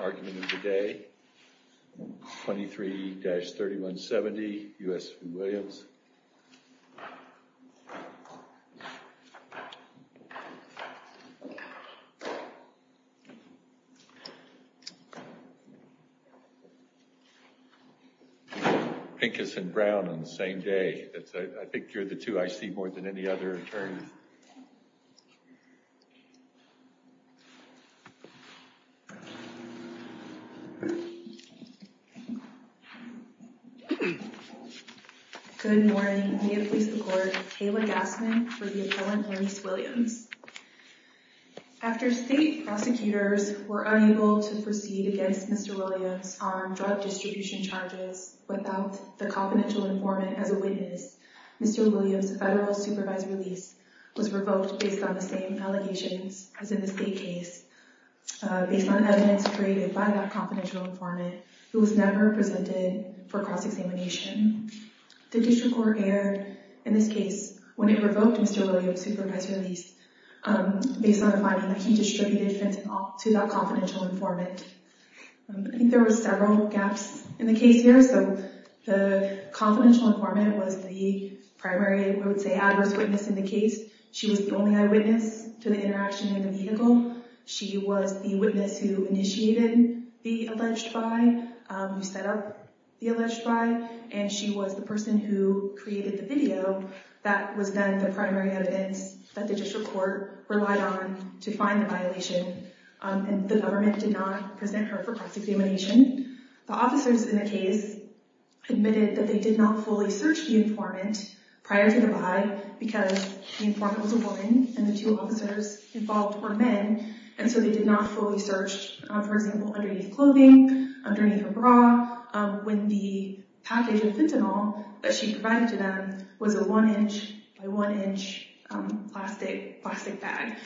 argument of the day, 23-3170 U.S. v. Williams, Pincus and Brown on the same day. I think you're the two I see more than any other attorney. Good morning. May it please the court. Kayla Gassman for the appellant Ernest Williams. After state prosecutors were unable to proceed against Mr. Williams on drug distribution charges without the confidential informant as a witness, Mr. Williams' federal supervised release was revoked based on the same allegations as in the state case, based on evidence created by that confidential informant who was never presented for cross-examination. The district court erred in this case when it revoked Mr. Williams' supervised release based on the finding that he distributed fentanyl to that confidential informant. I think there were several gaps in the case here, so the confidential informant was the primary, I would say, adverse witness in the case. She was the only eyewitness to the interaction in the vehicle. She was the witness who initiated the alleged buy, who set up the alleged buy, and she was the person who created the video that was then the primary evidence that the district court relied on to find the violation, and the government did not present her for cross-examination. The officers in the case admitted that they did not fully search the informant prior to the buy because the informant was a woman and the two officers involved were men, and so they did not fully search, for example, underneath clothing, underneath her bra, when the package of fentanyl that she provided to them was a one-inch by one-inch plastic bag.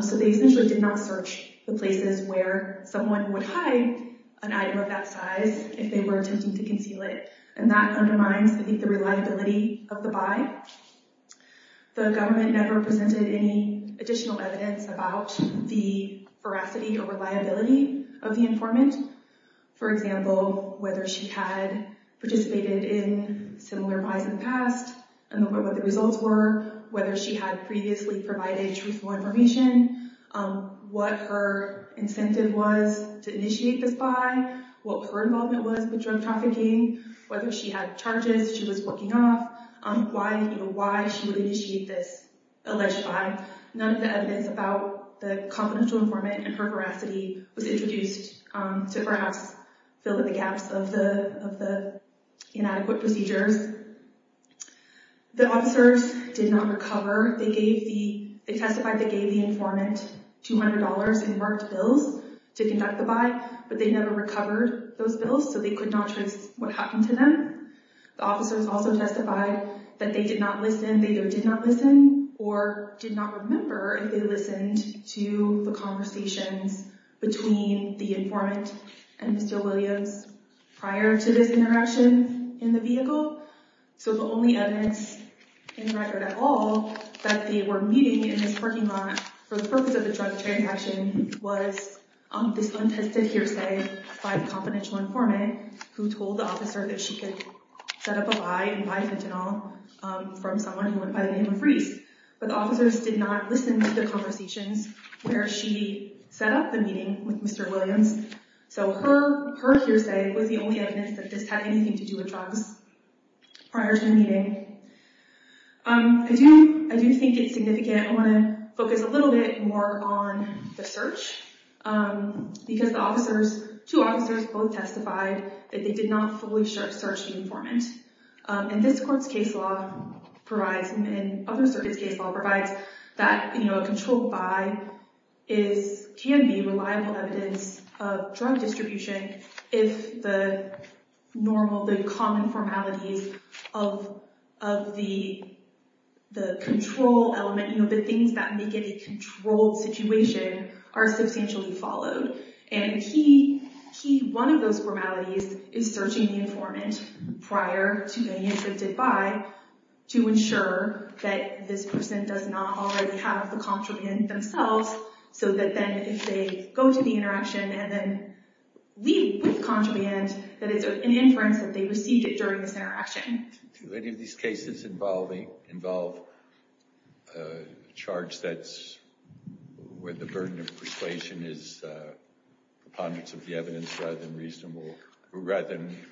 So they essentially did not search the places where someone would hide an item of that size if they were attempting to conceal it, and that undermines, I think, the reliability of the buy. The government never presented any additional evidence about the veracity or reliability of the informant. For example, whether she had participated in similar buys in the past and what the results were, whether she had previously provided truthful information, what her incentive was to initiate this buy, what her involvement was with drug trafficking, whether she had charges she was working off, why she would initiate this alleged buy. None of the evidence about the confidential informant and her veracity was introduced to perhaps fill in the gaps of the inadequate procedures. The officers did not recover. They testified they gave the informant $200 in marked bills to conduct the buy, but they never recovered those bills, so they could not trace what happened to them. The officers also testified that they did not listen, they either did not listen or did not remember if they listened to the conversations between the informant and Mr. Williams prior to this interaction in the vehicle. So the only evidence in record at all that they were meeting in this parking lot for the purpose of the drug transaction was this untested hearsay by the confidential informant who told the officer that she could set up a buy and buy fentanyl from someone who went by the name of Reese. But the officers did not listen to the conversations where she set up the meeting with Mr. Williams. So her hearsay was the only evidence that this had anything to do with drugs prior to their meeting. I do think it's significant. I want to focus a little bit more on the search because the officers, two officers, both testified that they did not fully search the informant. And this court's case law provides, and other circuits' case law provides, that a controlled buy can be reliable evidence of drug distribution if the common formalities of the control element, the things that make it a controlled situation, are substantially followed. And one of those formalities is searching the informant prior to being intercepted by to ensure that this person does not already have the contraband themselves so that then if they go to the interaction and then leave with contraband, that it's an inference that they received it during this interaction. Do any of these cases involve a charge that's where the burden of persuasion is preponderance of the evidence rather than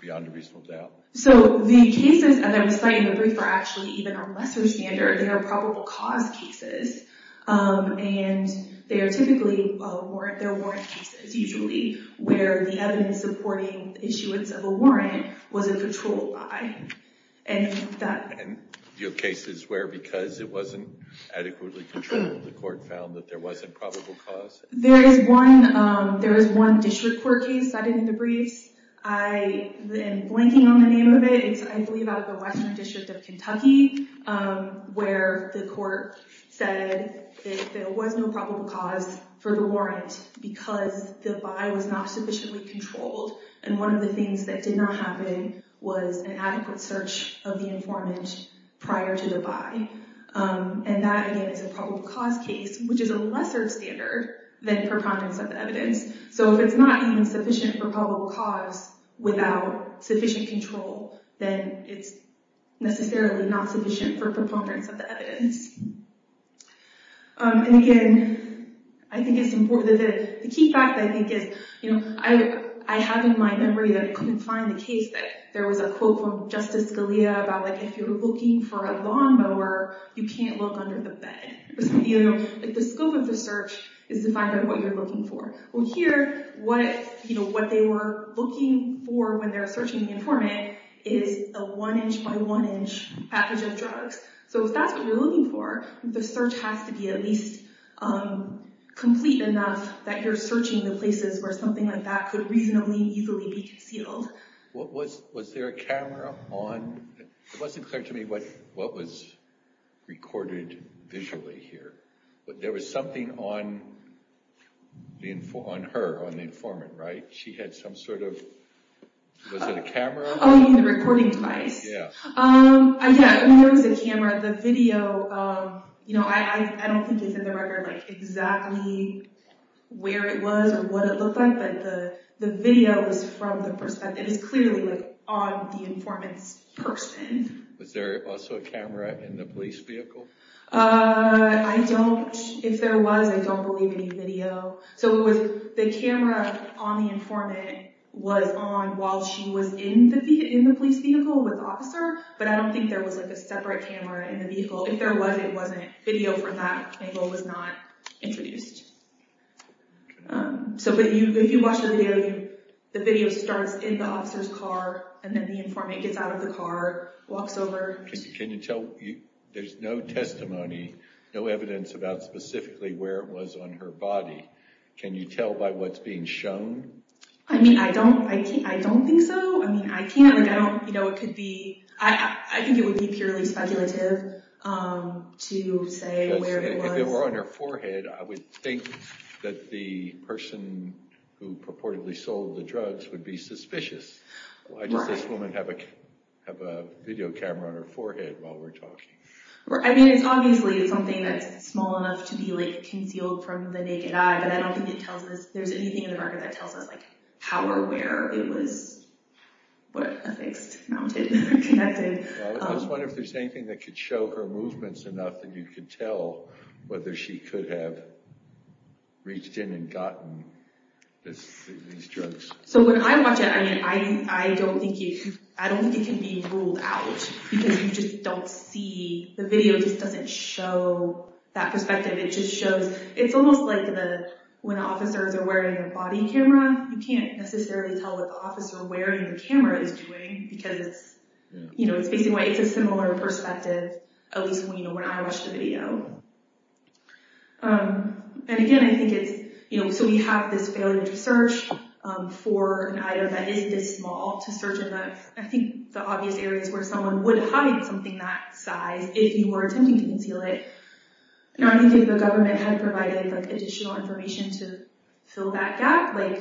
beyond a reasonable doubt? So the cases that I'm citing in the brief are actually even on lesser standard. They are probable cause cases. And they are typically warrant cases usually where the evidence supporting issuance of a warrant was a controlled buy. And do you have cases where because it wasn't adequately controlled, the court found that there wasn't probable cause? There is one district court case cited in the briefs. I am blanking on the name of it. It's I believe out of the Western District of Kentucky where the court said that there was no probable cause for the warrant because the buy was not sufficiently controlled. And one of the things that did not happen was an adequate search of the informant prior to the buy. And that again is a probable cause case, which is a lesser standard than preponderance of the evidence. So if it's not even sufficient for probable cause without sufficient control, then it's necessarily not sufficient for preponderance of the evidence. And again, I think it's important that the key fact I think is, you know, I have in my memory that I couldn't find the case that there was a quote from Justice Scalia about like if you're looking for a lawnmower, you can't look under the bed. You know, the scope of the search is to find out what you're looking for. Well here, what they were looking for when they're searching the informant is a one inch by one inch package of drugs. So if that's what you're looking for, the search has to be at least complete enough that you're searching the places where something like that could reasonably easily be concealed. Was there a camera on? It wasn't clear to me what was recorded visually here, but there was something on her, on the informant, right? She had some sort of, was it a camera? Oh, you mean the recording device? Yeah. Yeah, it was a camera. The video, you know, I don't think it's in the record like exactly where it was or what it looked like, but the video was from the perspective, it was clearly like on the informant's person. Was there also a camera in the police vehicle? I don't, if there was, I don't believe any video. So it was the camera on the informant was on while she was in the police vehicle with the officer, but I don't think there was like a separate camera in the vehicle. If there was, it wasn't. Video from that angle was not introduced. So if you watch the video, the video starts in the Can you tell, there's no testimony, no evidence about specifically where it was on her body. Can you tell by what's being shown? I mean, I don't, I don't think so. I mean, I can't, I don't, you know, it could be, I think it would be purely speculative to say where it was. If it were on her forehead, I would think that the person who purportedly sold the drugs would be suspicious. Why does this woman have a, have a video camera on her forehead while we're talking? I mean, it's obviously something that's small enough to be like concealed from the naked eye, but I don't think it tells us there's anything in the record that tells us like how or where it was affixed, mounted, connected. I was wondering if there's anything that could show her movements enough that you could tell whether she could have reached in and gotten this, these drugs. So when I watch it, I mean, I, I don't think you, I don't think it can be ruled out because you just don't see, the video just doesn't show that perspective. It just shows, it's almost like the, when officers are wearing a body camera, you can't necessarily tell what the officer wearing the camera is doing because it's, you know, it's basically, it's a similar perspective, at least when, you know, when I watch the video. And again, I think it's, you know, so we have this failure to search for an item that is this small to search in the, I think the obvious areas where someone would hide something that size, if you were attempting to conceal it. I don't think the government had provided like additional information to fill that gap, like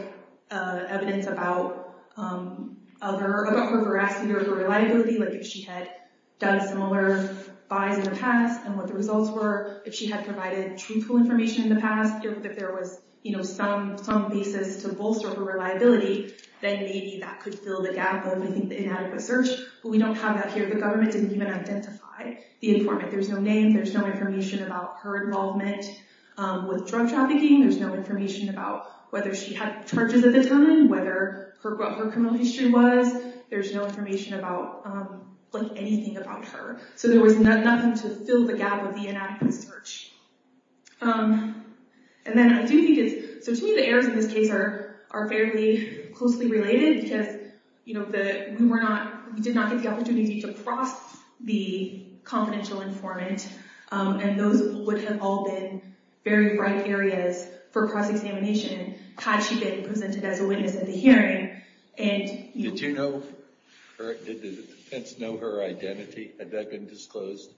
evidence about other, about her veracity or her reliability, like if she had done similar buys in the past and what the results were, if she had provided truthful information in the past, if there was, you know, some, some basis to bolster her reliability, then maybe that could fill the gap of, I think, the inadequate search. But we don't have that here. The government didn't even identify the informant. There's no name. There's no information about her involvement with drug trafficking. There's no information about whether she had charges at the time, whether her, what her criminal history was. There's no information about, like anything about her. So there was nothing to fill the gap with the inadequate search. And then I do think it's, so to me, the errors in this case are, are fairly closely related because, you know, the, we were not, we did not get the opportunity to cross the confidential informant. And those would have all been very bright areas for cross-examination had she been presented as a witness at the hearing. And, you know. Did you know her, did the defense know her identity? Had that been disclosed?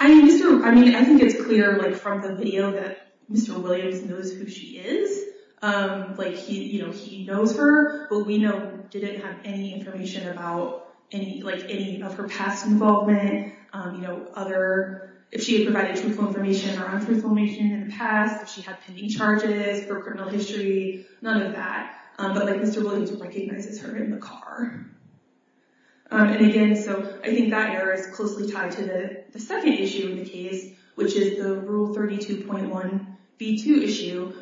I mean, Mr., I mean, I think it's clear, like, from the video that Mr. Williams knows who she is. Like, he, you know, he knows her, but we know, didn't have any information about any, like, any of her past involvement. You know, other, if she had provided truthful information or criminal history, none of that. But, like, Mr. Williams recognizes her in the car. And again, so I think that error is closely tied to the second issue of the case, which is the Rule 32.1b2 issue,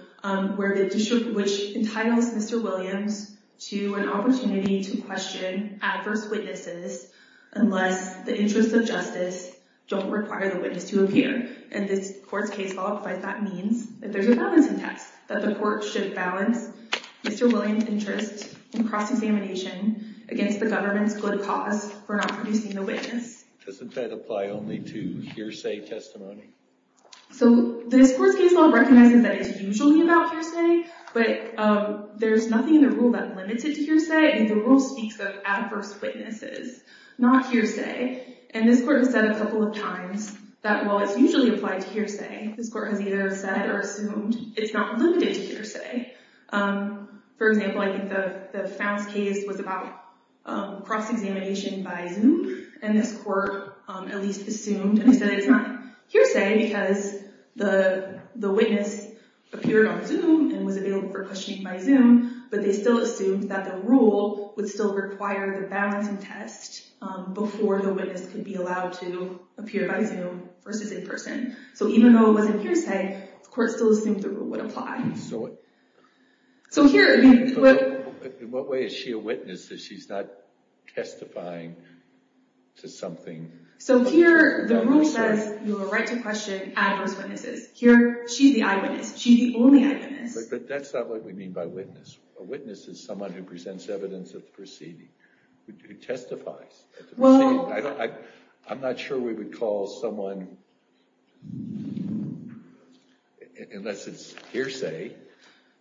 where the district, which entitles Mr. Williams to an opportunity to question adverse witnesses unless the interests of justice don't require the witness to appear. And this court's case law provides that means that there's a balancing test, that the court should balance Mr. Williams' interest in cross-examination against the government's good cause for not producing a witness. Doesn't that apply only to hearsay testimony? So, this court's case law recognizes that it's usually about hearsay, but there's nothing in the rule that limits it to hearsay. And the rule speaks of adverse witnesses, not hearsay. And this court has said a couple of times that while it's usually applied to hearsay, this court has either said or assumed it's not limited to hearsay. For example, I think the Founce case was about cross-examination by Zoom, and this court at least assumed and said it's not hearsay because the witness appeared on Zoom and was available for questioning by Zoom, but they still assumed that the rule would still require the balancing test before the witness could be allowed to appear by Zoom versus in person. So, even though it wasn't hearsay, the court still assumed the rule would apply. So, in what way is she a witness if she's not testifying to something? So, here the rule says you have a right to question adverse witnesses. Here, she's the eyewitness. She's the only eyewitness. But that's not what we mean by witness. A witness is someone who presents evidence of the proceeding, who testifies. I'm not sure we would call someone unless it's hearsay.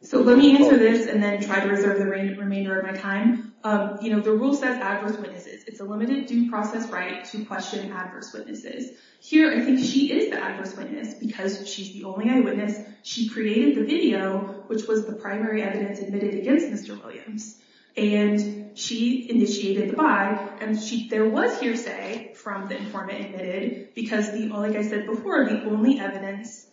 So, let me answer this and then try to reserve the remainder of my time. The rule says adverse witnesses. It's a limited due process right to question adverse witnesses. Here, I think she is the adverse witness because she's the only eyewitness. She created the video, which was the primary evidence admitted against Mr. Williams, and she initiated the buy, and there was hearsay from the informant admitted because, like I said before, the only evidence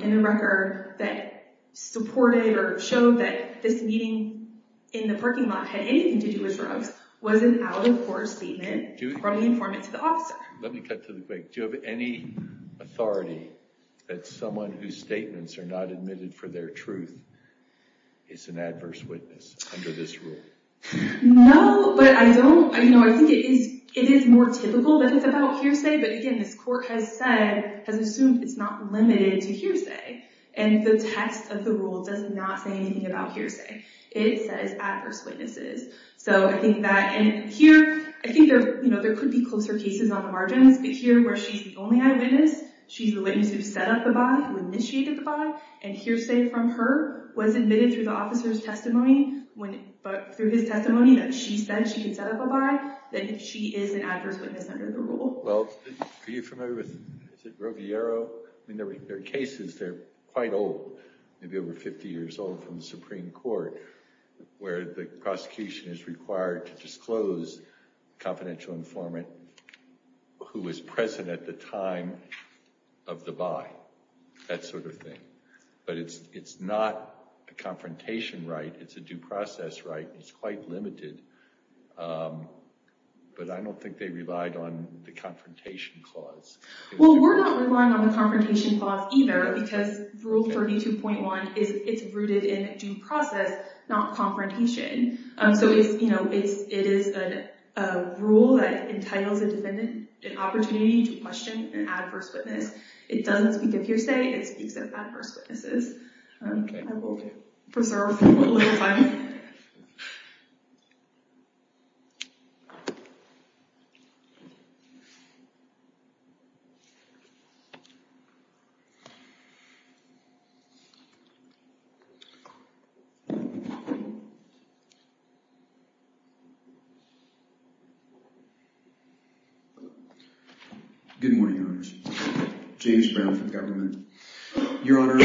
in the record that supported or showed that this meeting in the parking lot had anything to do with drugs was an out-of-court statement from the informant to the officer. Let me cut to the quick. Do you have any authority that someone whose statements are not admitted for their truth is an adverse witness under this rule? No, but I don't. I think it is more typical that it's about hearsay, but again, this court has said, has assumed it's not limited to hearsay, and the text of the rule does not say anything about hearsay. It says adverse witnesses. So I think that, and here, I think there could be closer cases on the margins, but here where she's the only eyewitness, she's the witness who set up the buy, who initiated the buy, and hearsay from her was admitted through the officer's testimony, but through his testimony that she said she could set up a buy, then she is an adverse witness under the rule. Well, are you familiar with, is it Roviero? I mean, there are cases, they're quite old, maybe over 50 years old, from the Supreme Court where the prosecution is required to disclose confidential informant who was present at the time of the buy, that sort of thing, but it's not a confrontation right. It's a due process right. It's quite limited, but I don't think they relied on the confrontation clause. Well, we're not relying on the confrontation clause either because Rule 32.1, it's rooted in due process, not confrontation, so it's, you know, it is a rule that entitles a defendant an opportunity to question an adverse witness. It doesn't speak of hearsay, it speaks of adverse witnesses. Okay. I will preserve a little time. Good morning, Your Honors. James Brown from Government. Your Honor,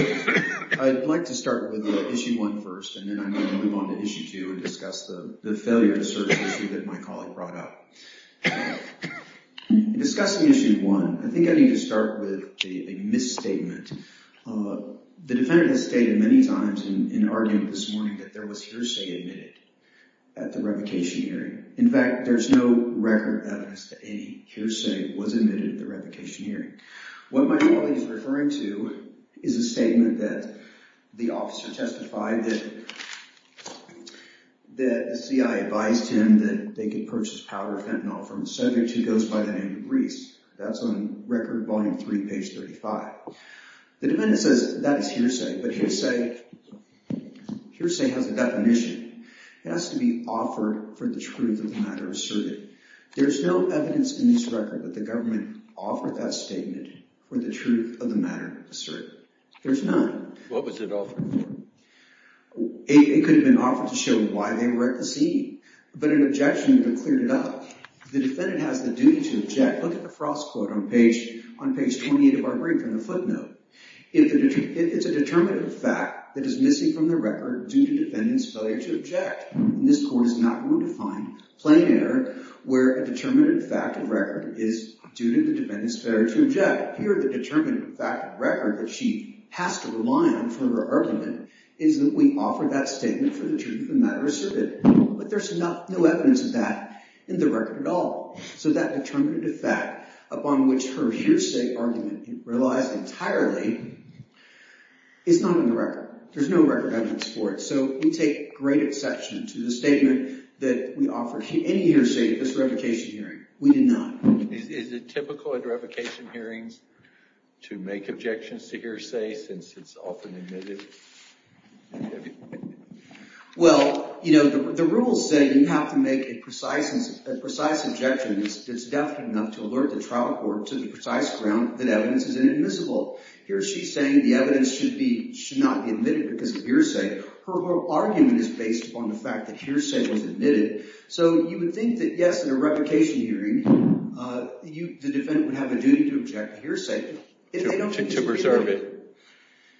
I'd like to start with issue two and discuss the failure to search issue that my colleague brought up. Discussing issue one, I think I need to start with a misstatement. The defendant has stated many times in argument this morning that there was hearsay admitted at the revocation hearing. In fact, there's no record evidence that any hearsay was admitted at the revocation hearing. What my colleague is referring to is a statement that the officer testified that the CIA advised him that they could purchase powder fentanyl from a subject who goes by the name of Reese. That's on Record Volume 3, page 35. The defendant says that is hearsay, but hearsay has a definition. It has to be offered for the truth of the matter asserted. There's no evidence in this record that the government offered that statement for the truth of the matter asserted. There's none. What was it offered for? It could have been offered to show why they were at the scene, but an objection would have cleared it up. The defendant has the duty to object. Look at the Frost quote on page 28 of our brief and the footnote. It's a determinative fact that is missing from the record due to defendant's failure to object. This court is not going to find plain error where a determinative fact of record is due to the defendant's failure to object. Here, the determinative fact of record that she has to rely on for her argument is that we offer that statement for the truth of the matter asserted, but there's no evidence of that in the record at all. That determinative fact upon which her hearsay argument relies entirely is not in the record. There's no record evidence for it. We take great exception to the statement we offer any hearsay at this revocation hearing. We do not. Is it typical at revocation hearings to make objections to hearsay since it's often admitted? Well, you know, the rules say you have to make a precise objection that's deft enough to alert the trial court to the precise ground that evidence is inadmissible. Here she's saying the evidence should not be admitted because of hearsay. Her whole argument is based upon the fact that so you would think that, yes, in a revocation hearing, the defendant would have a duty to object to hearsay. To preserve it.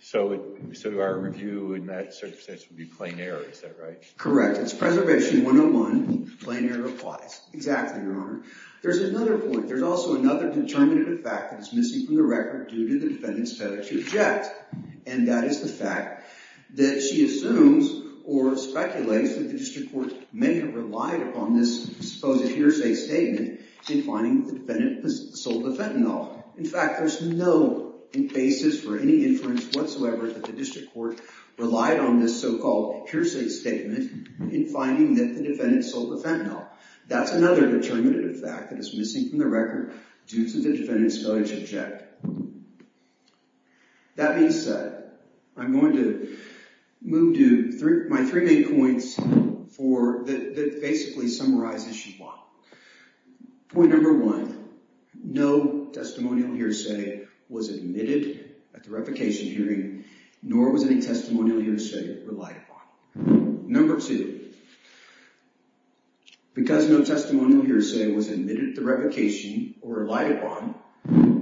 So our review in that circumstance would be plain error, is that right? Correct. It's preservation 101. Plain error applies. Exactly, Your Honor. There's another point. There's also another determinative fact that is missing from the record due to the defendant's failure to object, and that is the fact that she assumes or speculates that the district court may have relied upon this supposed hearsay statement in finding the defendant sold the fentanyl. In fact, there's no basis for any inference whatsoever that the district court relied on this so-called hearsay statement in finding that the defendant sold the fentanyl. That's another determinative fact that is missing from the record due to the defendant's for that basically summarizes issue one. Point number one, no testimonial hearsay was admitted at the revocation hearing, nor was any testimonial hearsay relied upon. Number two, because no testimonial hearsay was admitted at the revocation or relied upon,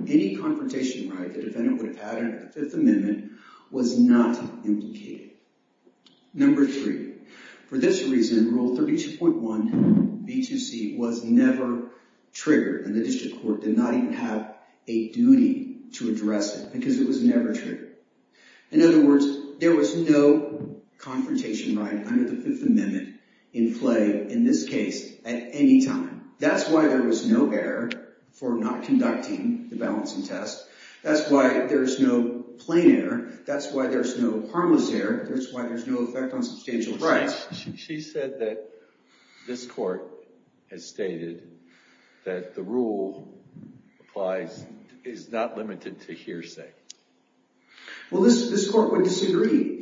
any confrontation right the defendant would have had in the Fifth Amendment was not implicated. Number three, for this reason, Rule 32.1 B2C was never triggered, and the district court did not even have a duty to address it because it was never triggered. In other words, there was no confrontation right under the Fifth Amendment in play in this case at any time. That's why there was no error for not conducting the balancing test. That's why there's no plain error. That's why there's no harmless error. That's why there's no effect on substantial charges. She said that this court has stated that the rule applies, is not limited to hearsay. Well, this court would disagree.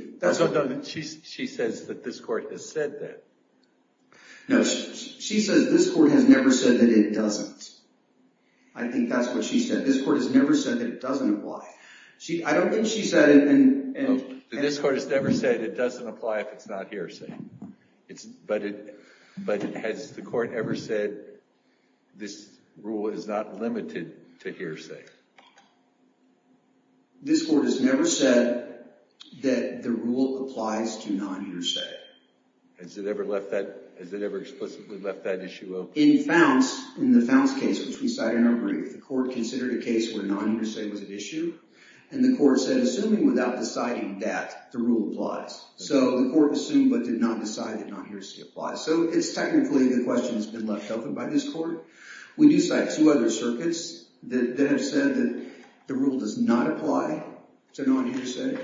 She says that this court has said that. No, she says this court has never said that it doesn't. I think that's what she said. This court has never said it doesn't apply if it's not hearsay. But has the court ever said this rule is not limited to hearsay? This court has never said that the rule applies to non-hearsay. Has it ever explicitly left that issue open? In the Founce case, which we cited in our brief, the court considered a case where non-hearsay was an issue. And the court said, assuming without deciding that the rule applies. So the court assumed but did not decide that non-hearsay applies. So it's technically the question that's been left open by this court. We do cite two other circuits that have said that the rule does not apply to non-hearsay.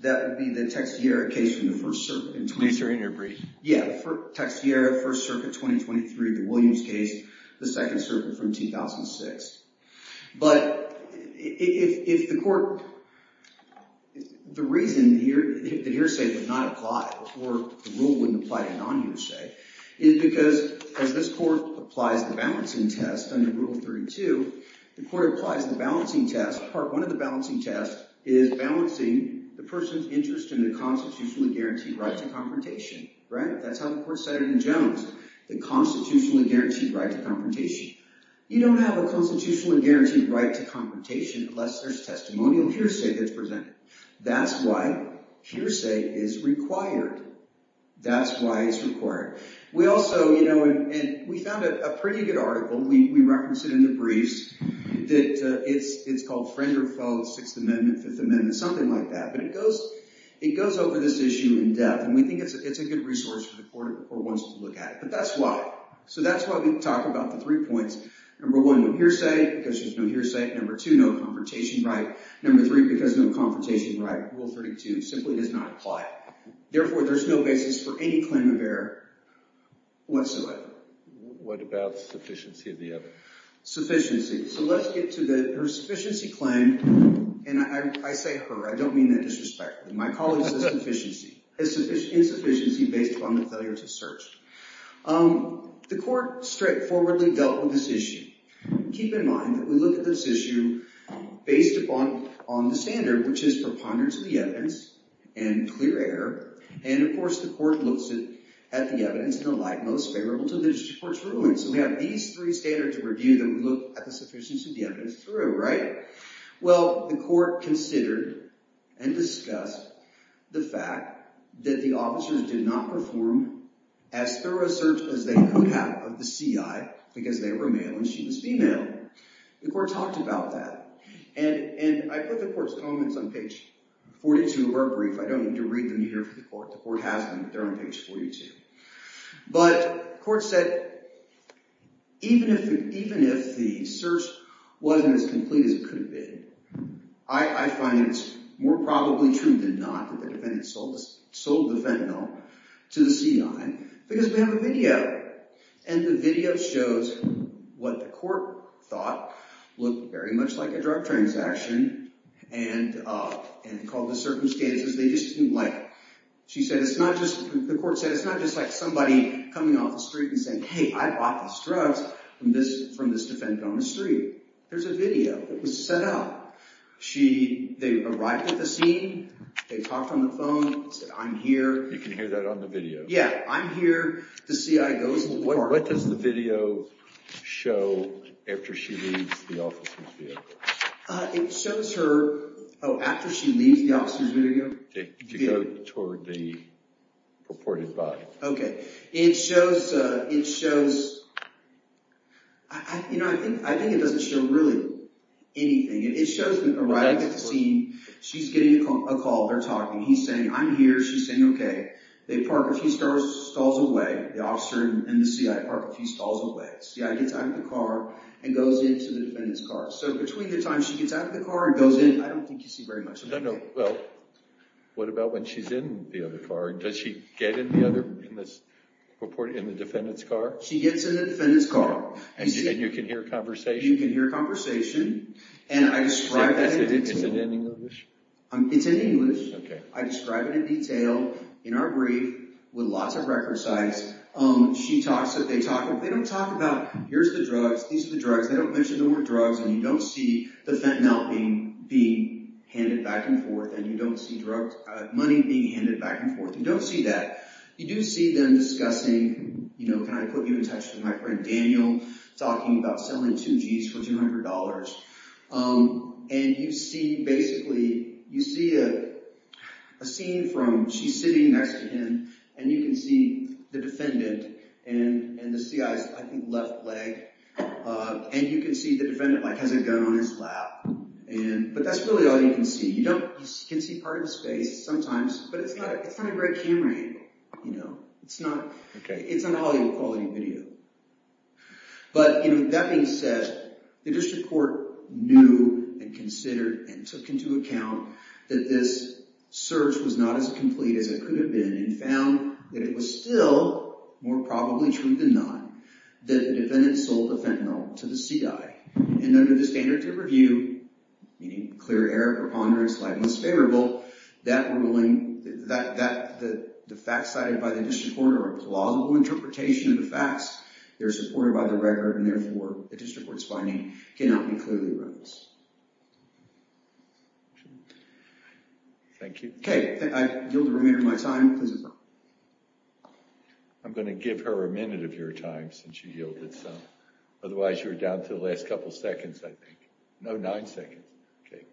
That would be the Teixeira case from the First Circuit. In your brief. Yeah, Teixeira, First Circuit, 2023, the Williams case, the Second Circuit from 2006. But if the court, the reason the hearsay would not apply or the rule wouldn't apply to non-hearsay is because as this court applies the balancing test under Rule 32, the court applies the balancing test. Part one of the balancing test is balancing the person's interest in the constitutionally guaranteed right to confrontation. That's how the court said it in Jones, the constitutionally guaranteed right to confrontation. You don't have a constitutionally guaranteed right to confrontation unless there's testimonial hearsay that's presented. That's why hearsay is required. That's why it's required. We also, you know, and we found a pretty good article, we referenced it in the briefs, that it's called Friend or Foe, Sixth Amendment, Fifth Amendment, something like that. But it goes over this issue in depth. And we look at it. But that's why. So that's why we talk about the three points. Number one, no hearsay because there's no hearsay. Number two, no confrontation right. Number three, because no confrontation right, Rule 32 simply does not apply. Therefore, there's no basis for any claim of error whatsoever. What about sufficiency of the other? Sufficiency. So let's get to the sufficiency claim. And I say her, I don't mean that as an excuse. The court straightforwardly dealt with this issue. Keep in mind that we look at this issue based upon the standard, which is preponderance of the evidence and clear error. And of course, the court looks at the evidence in the light most favorable to the district court's rulings. So we have these three standards of review that we look at the sufficiency of the evidence through, right? Well, the court considered and discussed the fact that the officers did not perform as thorough a search as they could have of the CI because they were male and she was female. The court talked about that. And I put the court's comments on page 42 of our brief. I don't need to read them here for the court. The court has them. They're on page 42. But the court said, even if the search wasn't as complete as it could have been, I find it's more probably true than not that the defendant sold the fentanyl to the CI because we have a video. And the video shows what the court thought looked very much like a drug transaction and called the circumstances. They just didn't like it. She said, it's not just, the court said, it's not just like somebody coming off the street and saying, hey, I bought these drugs from this defendant on the street. There's a video that was set up. They arrived at the scene. They talked on the phone. They said, I'm here. You can hear that on the video. Yeah. I'm here. The CI goes. What does the video show after she leaves the officer's vehicle? It shows her, oh, after she leaves the officer's vehicle? To go toward the purported body. Okay. It shows, I think it doesn't show really anything. It shows them arriving at the scene. She's getting a call. They're talking. He's saying, I'm here. She's saying, okay. They park a few stalls away. The officer and the CI park a few stalls away. CI gets out of the car and goes into the defendant's car. So between the time she gets out of the car and goes in, I don't think you see very much of anything. No, no. Well, what about when she's in the other car? Does she get in the other, in the defendant's car? She gets in the defendant's car. And you can hear conversation? You can hear conversation. And I describe it in detail. Is it in English? It's in English. Okay. I describe it in detail in our brief with lots of record sites. She talks that they talk. They don't talk about, here's the drugs. These are the drugs. They don't mention the word drugs. And you don't see fentanyl being handed back and forth. And you don't see money being handed back and forth. You don't see that. You do see them discussing, can I put you in touch with my friend Daniel, talking about selling two Gs for $200. And you see basically, you see a scene from, she's sitting next to him and you can see the defendant and the CI's, I think, left leg. And you can see the defendant has a gun on his lap. But that's really all you can see. You can see part of his face sometimes, but it's not a great camera angle. It's not a Hollywood quality video. But that being said, the district court knew and considered and took into account that this search was not as complete as it could have been and found that it was still more probably true than not. The defendant sold the fentanyl to the CI and under the standards of review, meaning clear error or ponderance, lightness favorable, that ruling, the facts cited by the district court are a plausible interpretation of the facts. They're supported by the record and therefore the district court's finding cannot be clearly wrong. Thank you. Okay, I yield the remainder of my time. I'm going to give her a minute of your time since you yielded some. Otherwise, you're down to the last couple seconds, I think. No, nine seconds. Okay.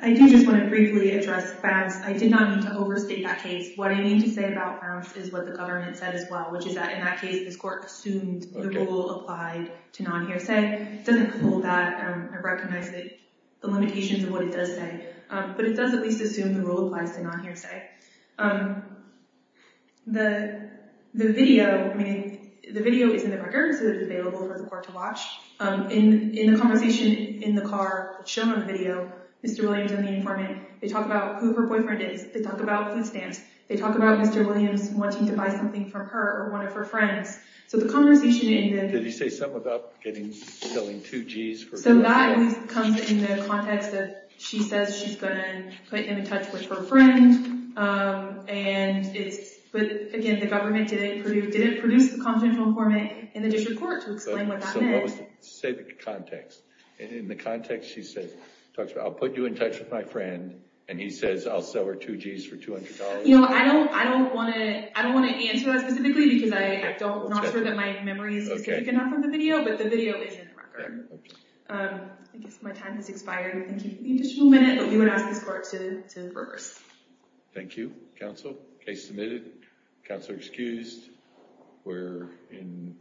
I do just want to briefly address Bounce. I did not mean to overstate that case. What I need to say about Bounce is what the government said as well, which is that in that case, this court assumed the rule applied to non-hearsay. It doesn't hold that. I recognize that limitations of what it does say, but it does at least assume the rule applies to non-hearsay. The video is in the record, so it's available for the court to watch. In the conversation in the car shown on the video, Mr. Williams and the informant, they talk about who her boyfriend is. They talk about food stamps. They talk about Mr. Williams wanting to buy something from her or one of her friends. So the conversation- Did he say something about selling two Gs? That comes in the context that she says she's going to put him in touch with her friend. Again, the government didn't produce the confidential informant in the district court to explain what that meant. Say the context. In the context, she says, talks about, I'll put you in touch with my friend, and he says I'll sell her two Gs for $200. I don't want to answer that specifically because I'm not sure that my memories can offer the video, but the video is in the record. I guess my time has expired. We'll thank you for the additional minute, but we would ask this court to reverse. Thank you, counsel. Case submitted. Counselor excused. We're in-